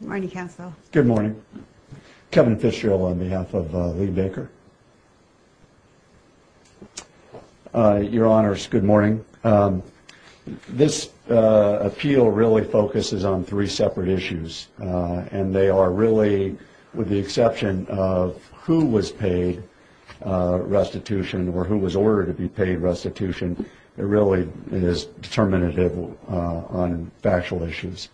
Good morning, Council. Good morning. Kevin Fitzgerald on behalf of Lee Baker, your honors, good morning. This appeal really focuses on three separate issues and they are really, with the exception of who was paid restitution or who was ordered to be paid restitution, it really is determinative on factual issues.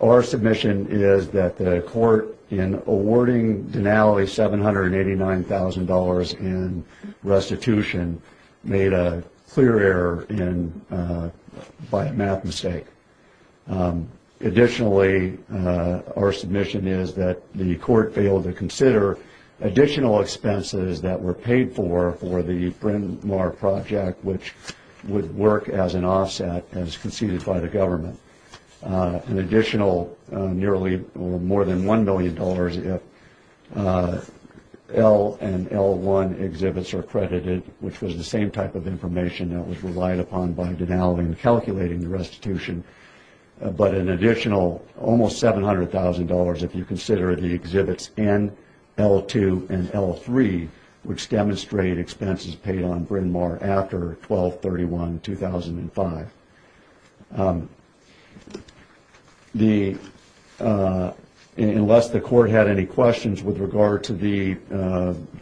Our submission is that the court in awarding Denali $789,000 in restitution made a clear error by a math mistake. Additionally, our submission is that the court failed to consider additional expenses that were paid for for the exhibition. An additional nearly more than $1 million if L and L1 exhibits are credited, which was the same type of information that was relied upon by Denali in calculating the restitution, but an additional almost $700,000 if you consider the exhibits N, L2, and L3, which demonstrate expenses paid on Bryn Mawr after 12-31-2005. Unless the court had any questions with regard to the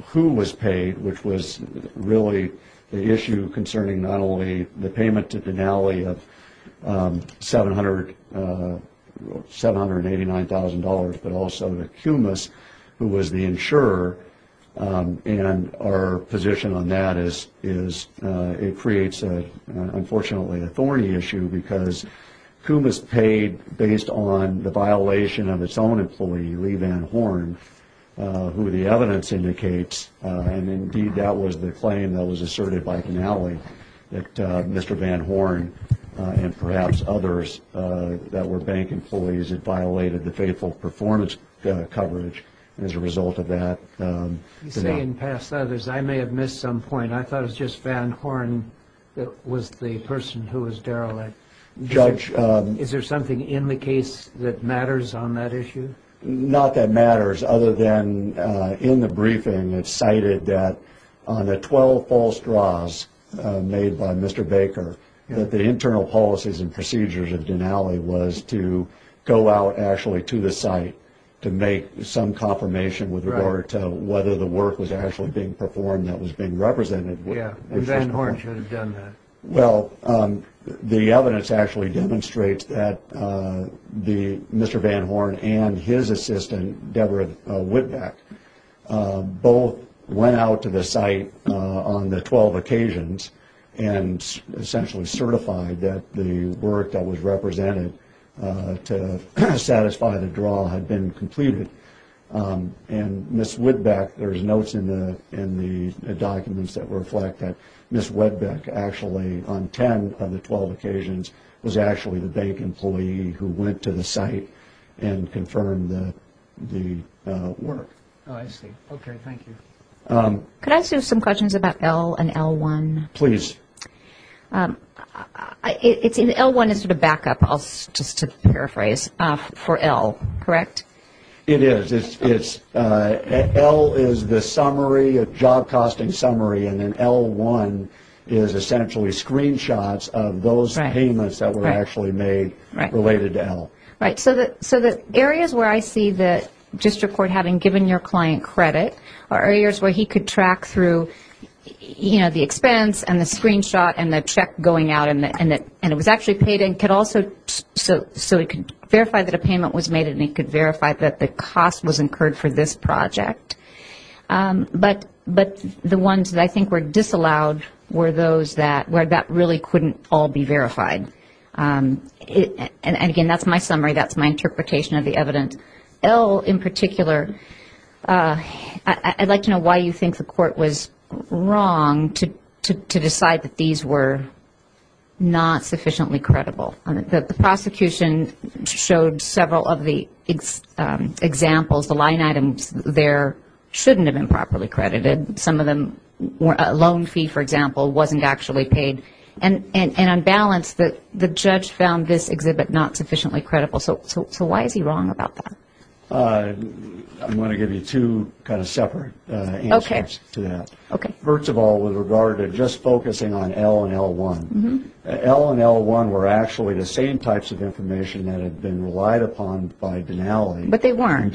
who was paid, which was really the issue concerning not only the payment to Denali of $789,000, but also the cumulus, who was the insurer, and our position on that is it creates, unfortunately, a thorny issue because who was paid based on the violation of its own employee, Lee Van Horn, who the evidence indicates, and indeed that was the claim that was asserted by Denali, that Mr. Van Horn and perhaps others that were bank employees had violated the faithful performance coverage as a result of that. You say in past others. I may have missed some point. I thought it was just Van Horn that was the person who was derelict. Judge, is there something in the case that matters on that issue? Not that matters other than in the briefing it's cited that on the 12 false draws made by Mr. Baker that the internal policies and procedures of Denali was to go out actually to the site to make some confirmation with regard to whether the work was actually being performed that was being represented. Yeah, Van Horn should have done that. Well, the evidence actually demonstrates that Mr. Van Horn and his assistant, Deborah Whitback, both went out to the site on the 12 occasions and essentially certified that the work that was to satisfy the draw had been completed. And Ms. Whitback, there's notes in the documents that reflect that Ms. Whitback actually on 10 of the 12 occasions was actually the bank employee who went to the site and confirmed the work. Could I ask you some questions about L and L1? Please. L1 is sort of backup, just to paraphrase, for L, correct? It is. L is the job costing summary and L1 is essentially screenshots of those payments that were actually made related to L. Right. So the areas where I see the district court having given your client credit are areas where he could track through, you know, the expense and the screenshot and the check going out and it was actually paid and could also, so he could verify that a payment was made and he could verify that the cost was incurred for this project. But the ones that I think were disallowed were those that, where that really couldn't all be verified. And again, that's my summary. That's my interpretation of the evidence. L in particular, I'd like to know why you think the court was wrong to decide that these were not sufficiently credible. The prosecution showed several of the examples, the line items there shouldn't have been properly credited. Some of them, a loan fee, for example, wasn't actually paid. And on balance, the judge found this exhibit not sufficiently credible. So why is he wrong about that? I'm going to give you two kind of separate answers to that. Okay. First of all, with regard to just focusing on L and L1, L and L1 were actually the same types of information that had been relied upon by Denali.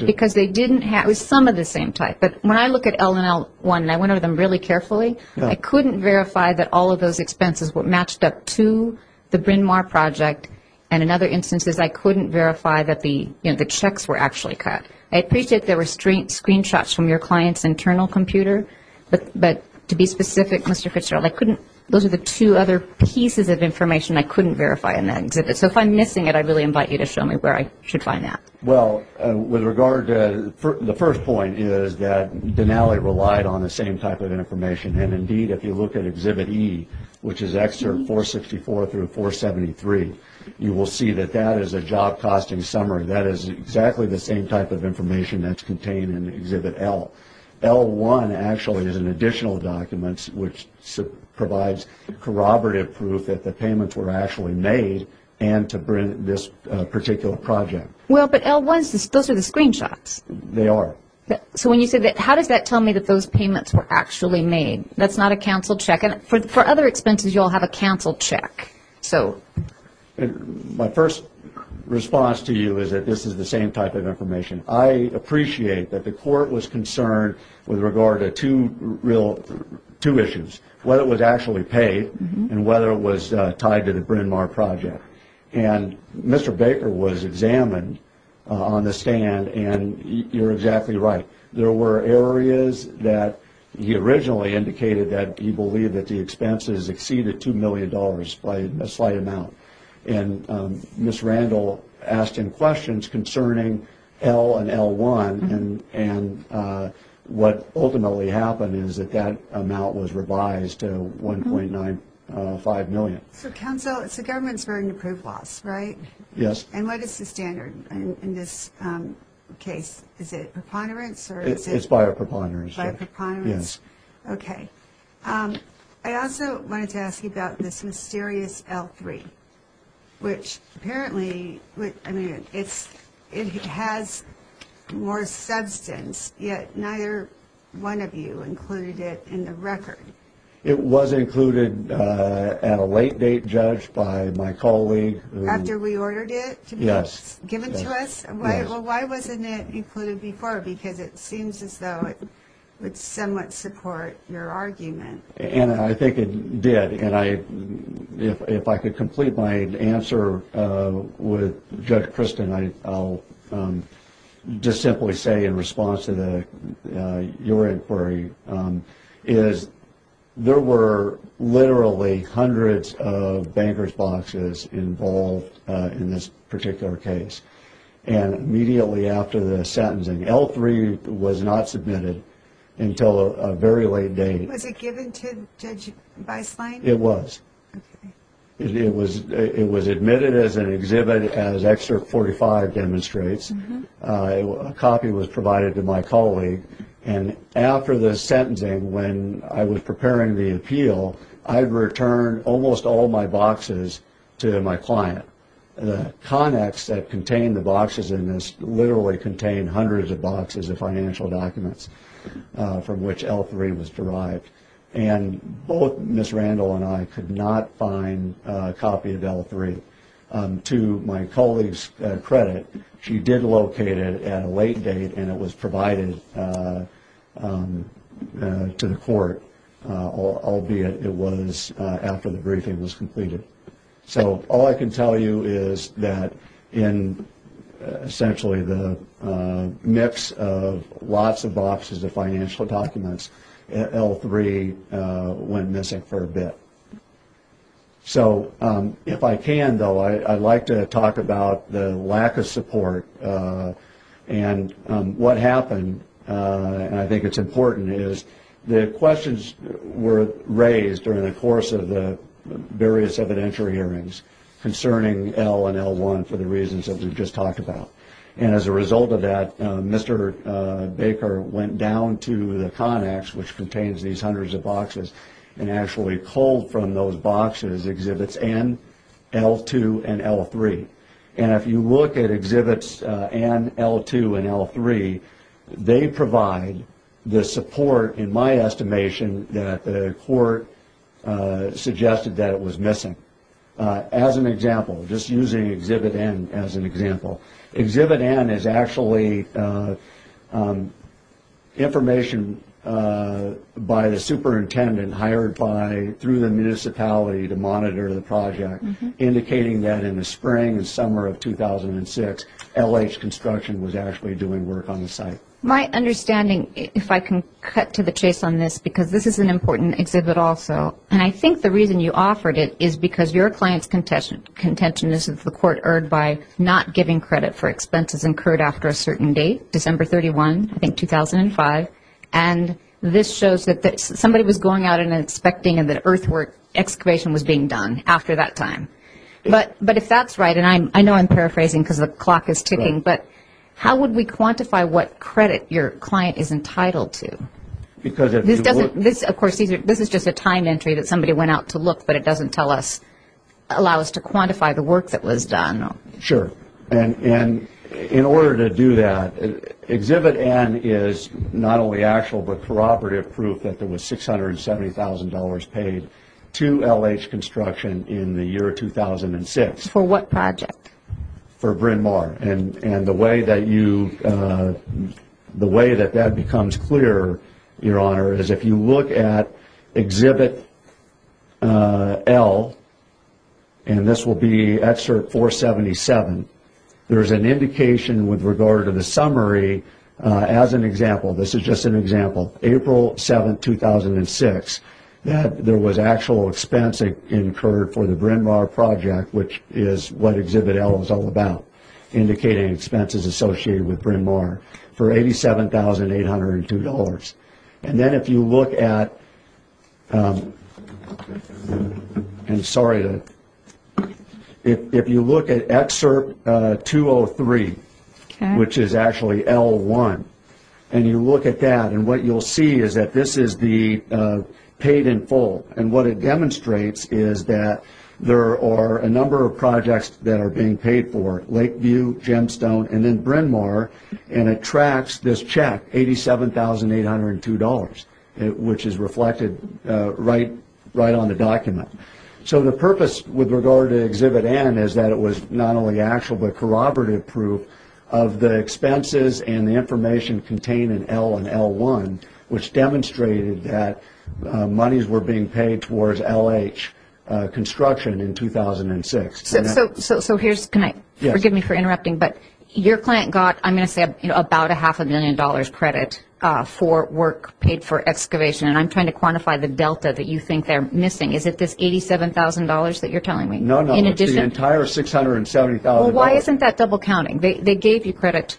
Because they didn't have, it was some of the same type. But when I look at L and L1 and I went over them really carefully, I couldn't verify that all of those expenses were matched up to the Bryn Mawr project and in other instances I couldn't verify that the checks were actually cut. I appreciate there were screenshots from your client's internal computer, but to be specific, Mr. Fitzgerald, I couldn't, those are the two other pieces of information I couldn't verify in that exhibit. So if I'm missing it, I'd really invite you to show me where I should find that. Well, with regard to the first point is that Denali relied on the same type of information. And indeed, if you look at Exhibit E, which is Excerpt 464 through 473, you will see that that is a job costing summary. That is exactly the same type of information that's contained in Exhibit L. L1 actually is an additional document which provides corroborative proof that the payments were actually made and to this particular project. Well, but L1s, those are the screenshots. They are. So when you say that, how does that tell me that those payments were actually made? That's not a canceled check. For other expenses, you'll have a canceled check. My first response to you is that this is the same type of information. I appreciate that the court was concerned with regard to two issues, whether it was actually paid and whether it was tied to the Bryn Mawr project. And Mr. Baker was examined on the stand, and you're exactly right. There were areas that he originally indicated that he believed that the expenses exceeded $2 million by a slight amount. And Ms. Randall asked him questions concerning L and L1, and what ultimately happened is that that amount was revised to $1.95 million. So, counsel, it's a government's burden to prove loss, right? Yes. And what is the standard in this case? Is it preponderance? It's biopreponderance. Biopreponderance? Yes. Okay. I also wanted to ask you about this mysterious L3, which apparently, I mean, it has more substance, yet neither one of you included it in the record. It was included at a late date, Judge, by my colleague. After we ordered it to be given to us? Yes. Well, why wasn't it included before? Because it seems as though it would somewhat support your argument. And I think it did. If I could complete my answer with Judge Kristen, I'll just simply say in response to your inquiry, is there were literally hundreds of bankers' boxes involved in this particular case. And immediately after the sentencing, L3 was not submitted until a very late date. Was it given to Judge Beislein? It was. Okay. It was admitted as an exhibit, as Excerpt 45 demonstrates. A copy was provided to my colleague. And after the sentencing, when I was preparing the appeal, I had returned almost all my boxes to my client. The connects that contained the boxes in this literally contained hundreds of boxes of financial documents from which L3 was derived. And both Ms. Randall and I could not find a copy of L3. To my colleague's credit, she did locate it at a late date, and it was provided to the court, albeit it was after the briefing was completed. So all I can tell you is that in essentially the mix of lots of boxes of financial documents, L3 went missing for a bit. So if I can, though, I'd like to talk about the lack of support. And what happened, and I think it's important, is the questions were raised during the course of the various evidential hearings concerning L and L1 for the reasons that we've just talked about. And as a result of that, Mr. Baker went down to the connects, which contains these hundreds of boxes, and actually pulled from those boxes exhibits N, L2, and L3. And if you look at exhibits N, L2, and L3, they provide the support, in my estimation, that the court suggested that it was missing. As an example, just using exhibit N as an example, exhibit N is actually information by the superintendent hired by, through the municipality to monitor the project, indicating that in the spring and summer of 2006, LH Construction was actually doing work on the site. My understanding, if I can cut to the chase on this, because this is an important exhibit also, and I think the reason you offered it is because your client's contention is that the court erred by not giving credit for expenses incurred after a certain date, December 31, I think 2005. And this shows that somebody was going out and expecting that earthwork excavation was being done after that time. But if that's right, and I know I'm paraphrasing because the clock is ticking, but how would we quantify what credit your client is entitled to? This is just a time entry that somebody went out to look, but it doesn't allow us to quantify the work that was done. Sure. And in order to do that, exhibit N is not only actual but corroborative proof that there was $670,000 paid to LH Construction in the year 2006. For what project? For Bryn Mawr. And the way that that becomes clear, Your Honor, is if you look at exhibit L, and this will be excerpt 477, there is an indication with regard to the summary as an example. This is just an example. April 7, 2006, that there was actual expense incurred for the Bryn Mawr project, which is what exhibit L is all about. Indicating expenses associated with Bryn Mawr for $87,802. And then if you look at excerpt 203, which is actually L1, and you look at that, and what you'll see is that this is the paid in full. And what it demonstrates is that there are a number of projects that are being paid for, Lakeview, Gemstone, and then Bryn Mawr, and it tracks this check, $87,802, which is reflected right on the document. So the purpose with regard to exhibit N is that it was not only actual but corroborative proof of the expenses and the information contained in L and L1, which demonstrated that monies were being paid towards LH construction in 2006. So here's, can I, forgive me for interrupting, but your client got, I'm going to say, about a half a million dollars credit for work paid for excavation, and I'm trying to quantify the delta that you think they're missing. Is it this $87,000 that you're telling me? No, no, it's the entire $670,000. Well, why isn't that double counting? They gave you credit.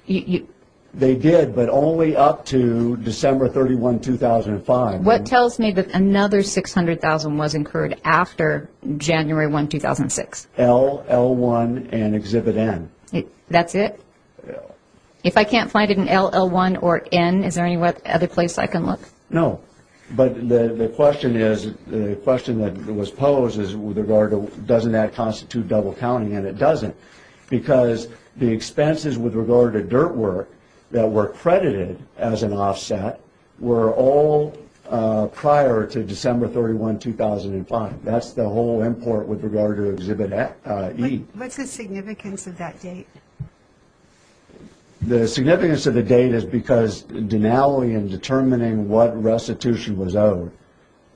They did, but only up to December 31, 2005. What tells me that another $600,000 was incurred after January 1, 2006? L, L1, and exhibit N. That's it? Yeah. If I can't find it in L, L1, or N, is there any other place I can look? No, but the question is, the question that was posed is with regard to doesn't that constitute double counting, and it doesn't. Because the expenses with regard to dirt work that were credited as an offset were all prior to December 31, 2005. That's the whole import with regard to exhibit E. What's the significance of that date? The significance of the date is because Denali, in determining what restitution was owed,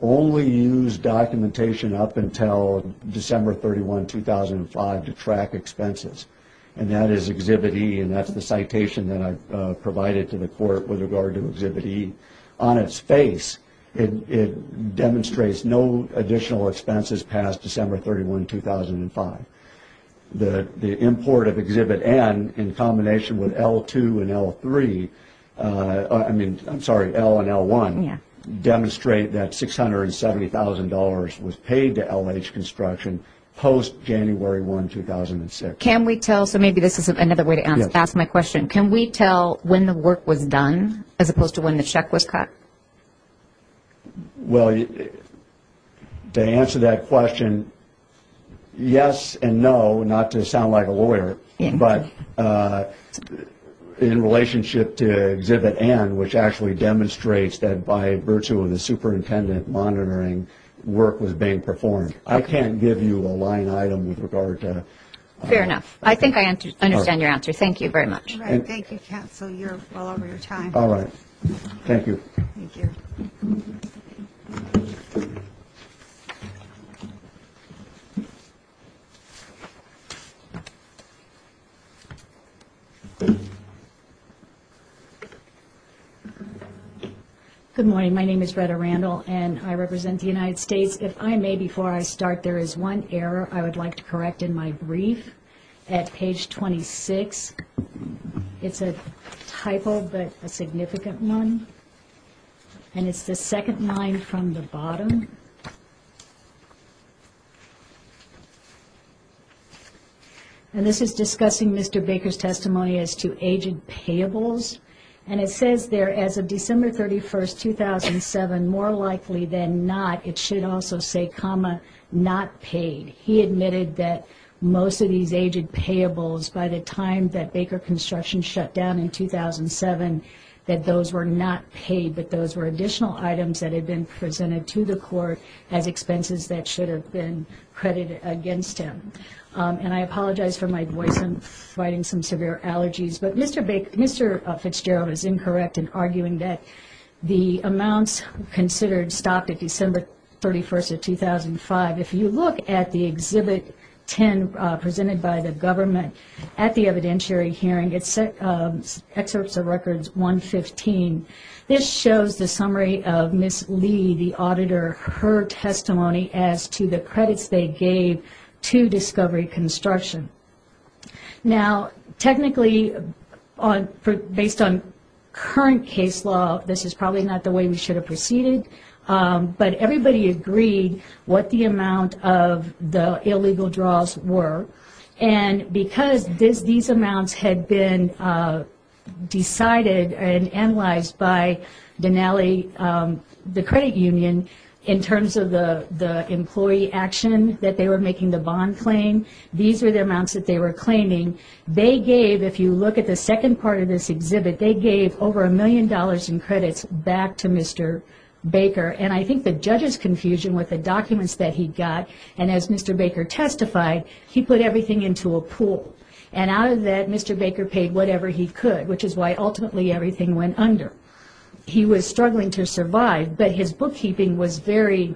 only used documentation up until December 31, 2005 to track expenses. And that is exhibit E, and that's the citation that I provided to the court with regard to exhibit E. On its face, it demonstrates no additional expenses past December 31, 2005. The import of exhibit N in combination with L2 and L3, I'm sorry, L and L1, demonstrate that $670,000 was paid to LH Construction post January 1, 2006. Can we tell, so maybe this is another way to ask my question, can we tell when the work was done as opposed to when the check was cut? Well, to answer that question, yes and no. Not to sound like a lawyer, but in relationship to exhibit N, which actually demonstrates that by virtue of the superintendent monitoring, work was being performed. I can't give you a line item with regard to. Fair enough. I think I understand your answer. Thank you very much. Thank you, counsel. You're well over your time. All right. Thank you. Thank you. Good morning. My name is Greta Randall, and I represent the United States. If I may, before I start, there is one error I would like to correct in my brief at page 26. It's a typo, but a significant one. And it's the second line from the bottom. And this is discussing Mr. Baker's testimony as to aged payables. And it says there, as of December 31, 2007, more likely than not, it should also say, comma, not paid. He admitted that most of these aged payables, by the time that Baker Construction shut down in 2007, that those were not paid, but those were additional items that had been presented to the court as expenses that should have been credited against him. And I apologize for my voice and providing some severe allergies, but Mr. Fitzgerald is incorrect in arguing that the amounts considered stopped at December 31, 2005. If you look at the Exhibit 10 presented by the government at the evidentiary hearing, it's Excerpts of Records 115. This shows the summary of Ms. Lee, the auditor, her testimony as to the credits they gave to Discovery Construction. Now, technically, based on current case law, this is probably not the way we should have proceeded. But everybody agreed what the amount of the illegal draws were. And because these amounts had been decided and analyzed by Denali, the credit union, in terms of the employee action that they were making the bond claim, these were the amounts that they were claiming. They gave, if you look at the second part of this exhibit, they gave over a million dollars in credits back to Mr. Baker. And I think the judge's confusion with the documents that he got, and as Mr. Baker testified, he put everything into a pool. And out of that, Mr. Baker paid whatever he could, which is why ultimately everything went under. He was struggling to survive, but his bookkeeping was very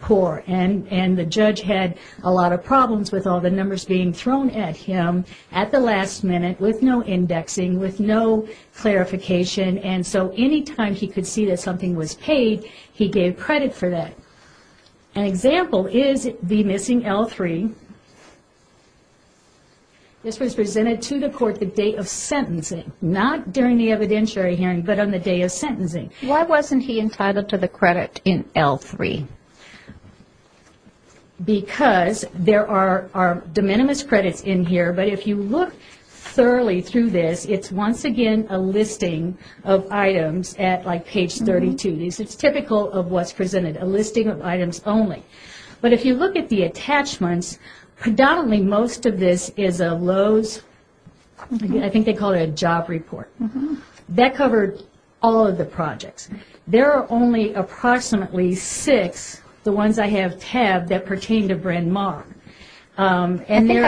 poor. And the judge had a lot of problems with all the numbers being thrown at him at the last minute, with no indexing, with no clarification. And so any time he could see that something was paid, he gave credit for that. An example is the missing L3. This was presented to the court the day of sentencing. Not during the evidentiary hearing, but on the day of sentencing. Why wasn't he entitled to the credit in L3? Because there are de minimis credits in here, but if you look thoroughly through this, it's once again a listing of items at page 32. It's typical of what's presented, a listing of items only. But if you look at the attachments, predominantly most of this is a Lowe's, I think they call it a job report. That covered all of the projects. There are only approximately six, the ones I have tabbed, that pertain to Bryn Mawr. I think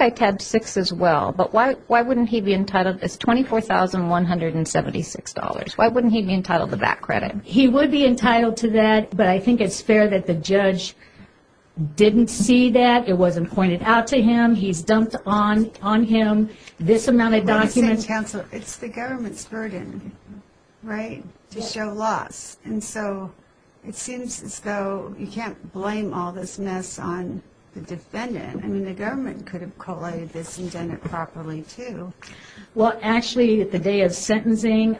I tabbed six as well, but why wouldn't he be entitled? It's $24,176. Why wouldn't he be entitled to that credit? He would be entitled to that, but I think it's fair that the judge didn't see that. It wasn't pointed out to him. He's dumped on him this amount of documents. It's the government's burden, right, to show loss. And so it seems as though you can't blame all this mess on the defendant. I mean, the government could have collated this and done it properly too. Well, actually, the day of sentencing,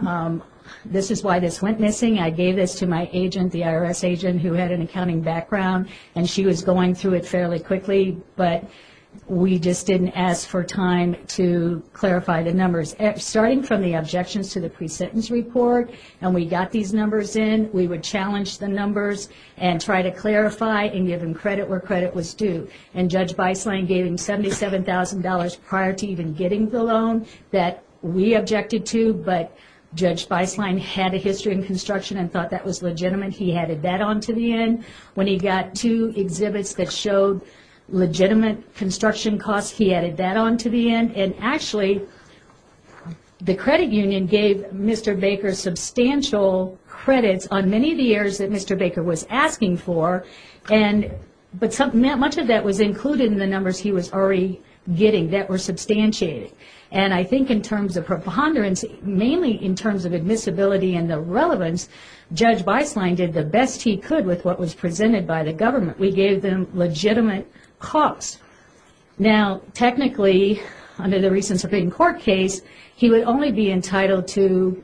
this is why this went missing. I gave this to my agent, the IRS agent, who had an accounting background, and she was going through it fairly quickly, but we just didn't ask for time to clarify the numbers. Starting from the objections to the pre-sentence report, and we got these numbers in, we would challenge the numbers and try to clarify and give him credit where credit was due. And Judge Beislein gave him $77,000 prior to even getting the loan that we objected to, but Judge Beislein had a history in construction and thought that was legitimate. He added that on to the end. When he got two exhibits that showed legitimate construction costs, he added that on to the end. And actually, the credit union gave Mr. Baker substantial credits on many of the areas that Mr. Baker was asking for, but much of that was included in the numbers he was already getting that were substantiated. And I think in terms of preponderance, mainly in terms of admissibility and the relevance, Judge Beislein did the best he could with what was presented by the government. We gave them legitimate costs. Now, technically, under the recent Supreme Court case, he would only be entitled to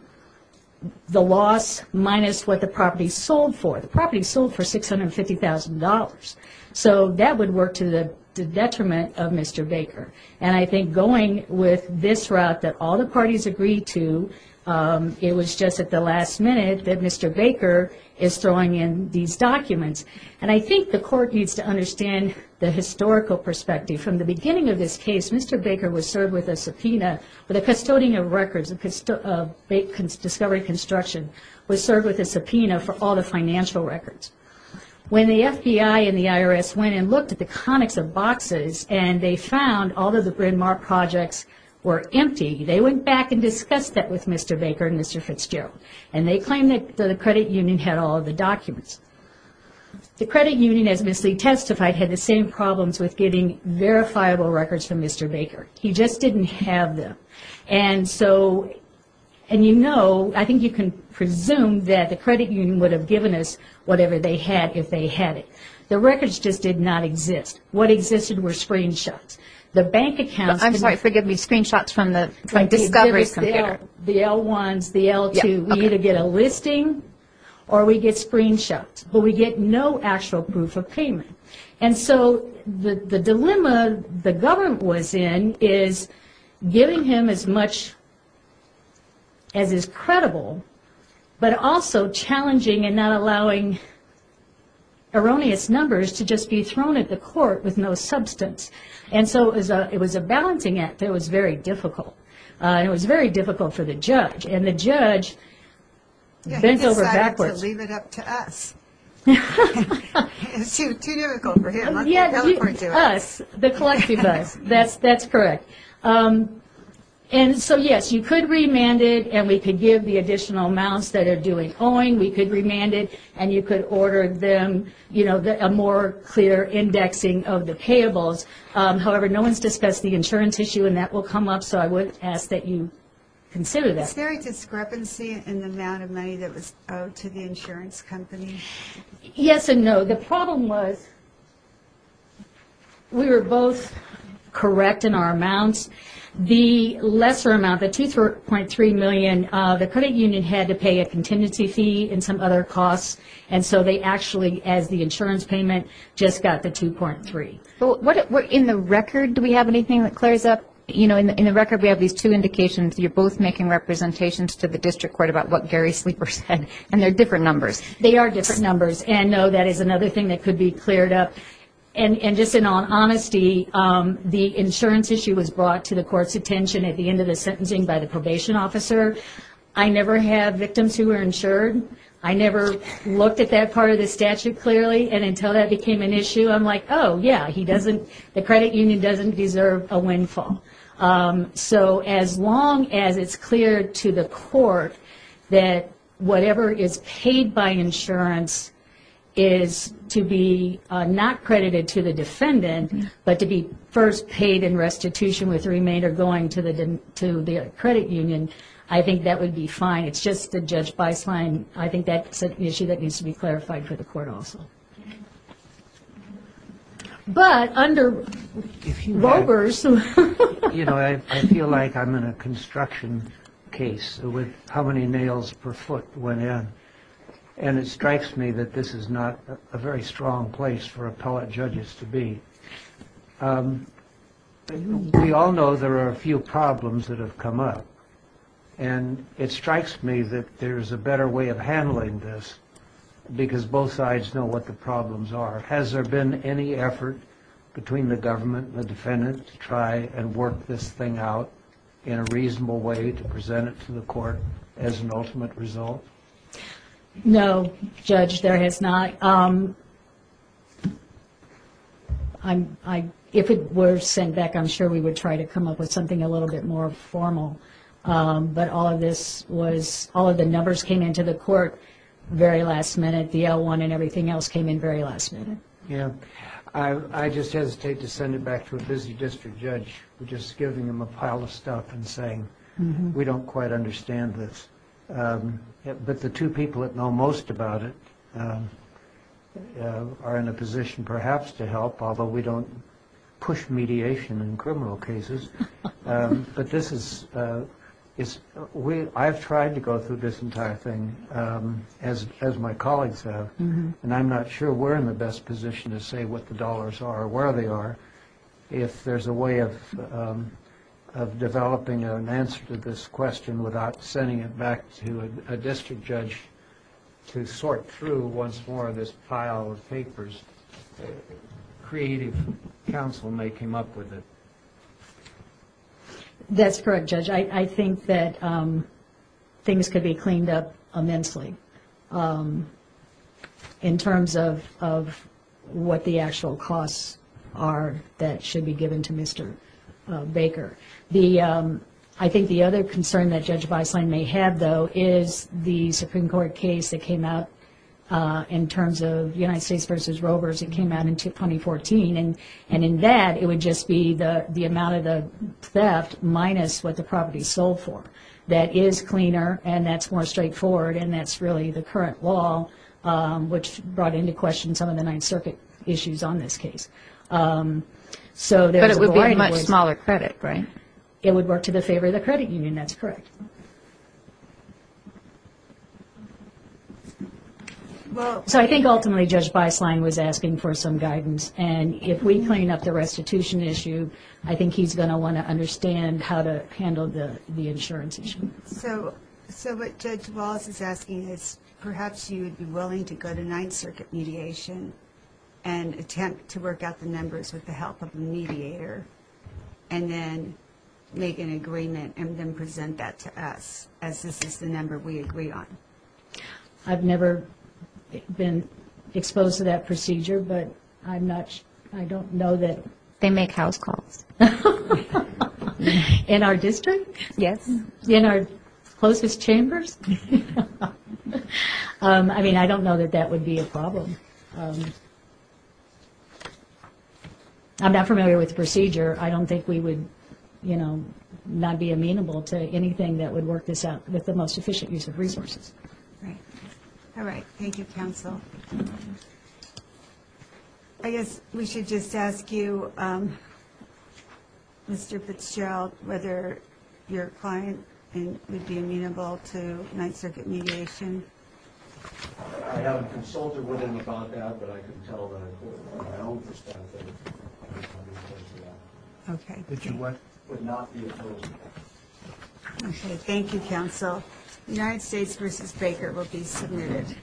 the loss minus what the property sold for. The property sold for $650,000. So that would work to the detriment of Mr. Baker. And I think going with this route that all the parties agreed to, it was just at the last minute that Mr. Baker is throwing in these documents. And I think the court needs to understand the historical perspective. From the beginning of this case, Mr. Baker was served with a subpoena for the custodian of records of discovery construction, was served with a subpoena for all the financial records. When the FBI and the IRS went and looked at the conics of boxes and they found all of the Bryn Mawr projects were empty, they went back and discussed that with Mr. Baker and Mr. Fitzgerald. And they claimed that the credit union had all of the documents. The credit union, as Ms. Lee testified, had the same problems with getting verifiable records from Mr. Baker. He just didn't have them. And so, and you know, I think you can presume that the credit union would have given us whatever they had if they had it. The records just did not exist. What existed were screenshots. The bank accounts. I'm sorry, forgive me, screenshots from the discovery. The L1s, the L2s. We either get a listing or we get screenshots. But we get no actual proof of payment. And so the dilemma the government was in is giving him as much as is credible, but also challenging and not allowing erroneous numbers to just be thrown at the court with no substance. And so it was a balancing act that was very difficult. And it was very difficult for the judge. And the judge bent over backwards. Yeah, he decided to leave it up to us. It was too difficult for him. Yeah, us, the collective us. That's correct. And so, yes, you could remand it, and we could give the additional amounts that are due in owing. We could remand it, and you could order them, you know, a more clear indexing of the payables. However, no one's discussed the insurance issue, and that will come up. So I would ask that you consider that. Is there a discrepancy in the amount of money that was owed to the insurance company? Yes and no. The problem was we were both correct in our amounts. The lesser amount, the $2.3 million, the credit union had to pay a contingency fee and some other costs. And so they actually, as the insurance payment, just got the $2.3. In the record, do we have anything that clears up? You know, in the record we have these two indications. You're both making representations to the district court about what Gary Sleeper said, and they're different numbers. They are different numbers. And, no, that is another thing that could be cleared up. And just in all honesty, the insurance issue was brought to the court's attention at the end of the sentencing by the probation officer. I never have victims who are insured. I never looked at that part of the statute clearly. And until that became an issue, I'm like, oh, yeah, he doesn't, the credit union doesn't deserve a windfall. So as long as it's clear to the court that whatever is paid by insurance is to be not credited to the defendant but to be first paid in restitution with the remainder going to the credit union, I think that would be fine. It's just that Judge Beisheim, I think that's an issue that needs to be clarified for the court also. But under rovers. You know, I feel like I'm in a construction case with how many nails per foot went in. And it strikes me that this is not a very strong place for appellate judges to be. We all know there are a few problems that have come up. And it strikes me that there's a better way of handling this because both sides know what the problems are. Has there been any effort between the government and the defendant to try and work this thing out in a reasonable way to present it to the court as an ultimate result? No, Judge, there has not. But if it were sent back, I'm sure we would try to come up with something a little bit more formal. But all of this was, all of the numbers came into the court very last minute. The L1 and everything else came in very last minute. Yeah. I just hesitate to send it back to a busy district judge just giving them a pile of stuff and saying, we don't quite understand this. But the two people that know most about it are in a position perhaps to help, although we don't push mediation in criminal cases. But this is, I've tried to go through this entire thing, as my colleagues have. And I'm not sure we're in the best position to say what the dollars are or where they are. If there's a way of developing an answer to this question without sending it back to a district judge to sort through once more this pile of papers, creative counsel may come up with it. That's correct, Judge. I think that things could be cleaned up immensely in terms of what the actual costs are that should be given to Mr. Baker. I think the other concern that Judge Beisline may have, though, is the Supreme Court case that came out in terms of United States v. Rovers that came out in 2014. And in that, it would just be the amount of the theft minus what the property sold for. That is cleaner, and that's more straightforward, and that's really the current law, which brought into question some of the Ninth Circuit issues on this case. But it would be a much smaller credit, right? It would work to the favor of the credit union, that's correct. So I think ultimately Judge Beisline was asking for some guidance, and if we clean up the restitution issue, I think he's going to want to understand how to handle the insurance issue. So what Judge Wallace is asking is perhaps you would be willing to go to Ninth Circuit mediation and attempt to work out the numbers with the help of a mediator, and then make an agreement and then present that to us, as this is the number we agree on. I've never been exposed to that procedure, but I don't know that. They make house calls. In our district? Yes. In our closest chambers? I'm not familiar with the procedure. I don't think we would, you know, not be amenable to anything that would work this out with the most efficient use of resources. All right. Thank you, counsel. I guess we should just ask you, Mr. Fitzgerald, whether your client would be amenable to Ninth Circuit mediation. I have a consultant with him about that, but I can tell that from my own perspective, I would not be opposed to that. Okay. Thank you, counsel. The United States v. Baker will be submitted.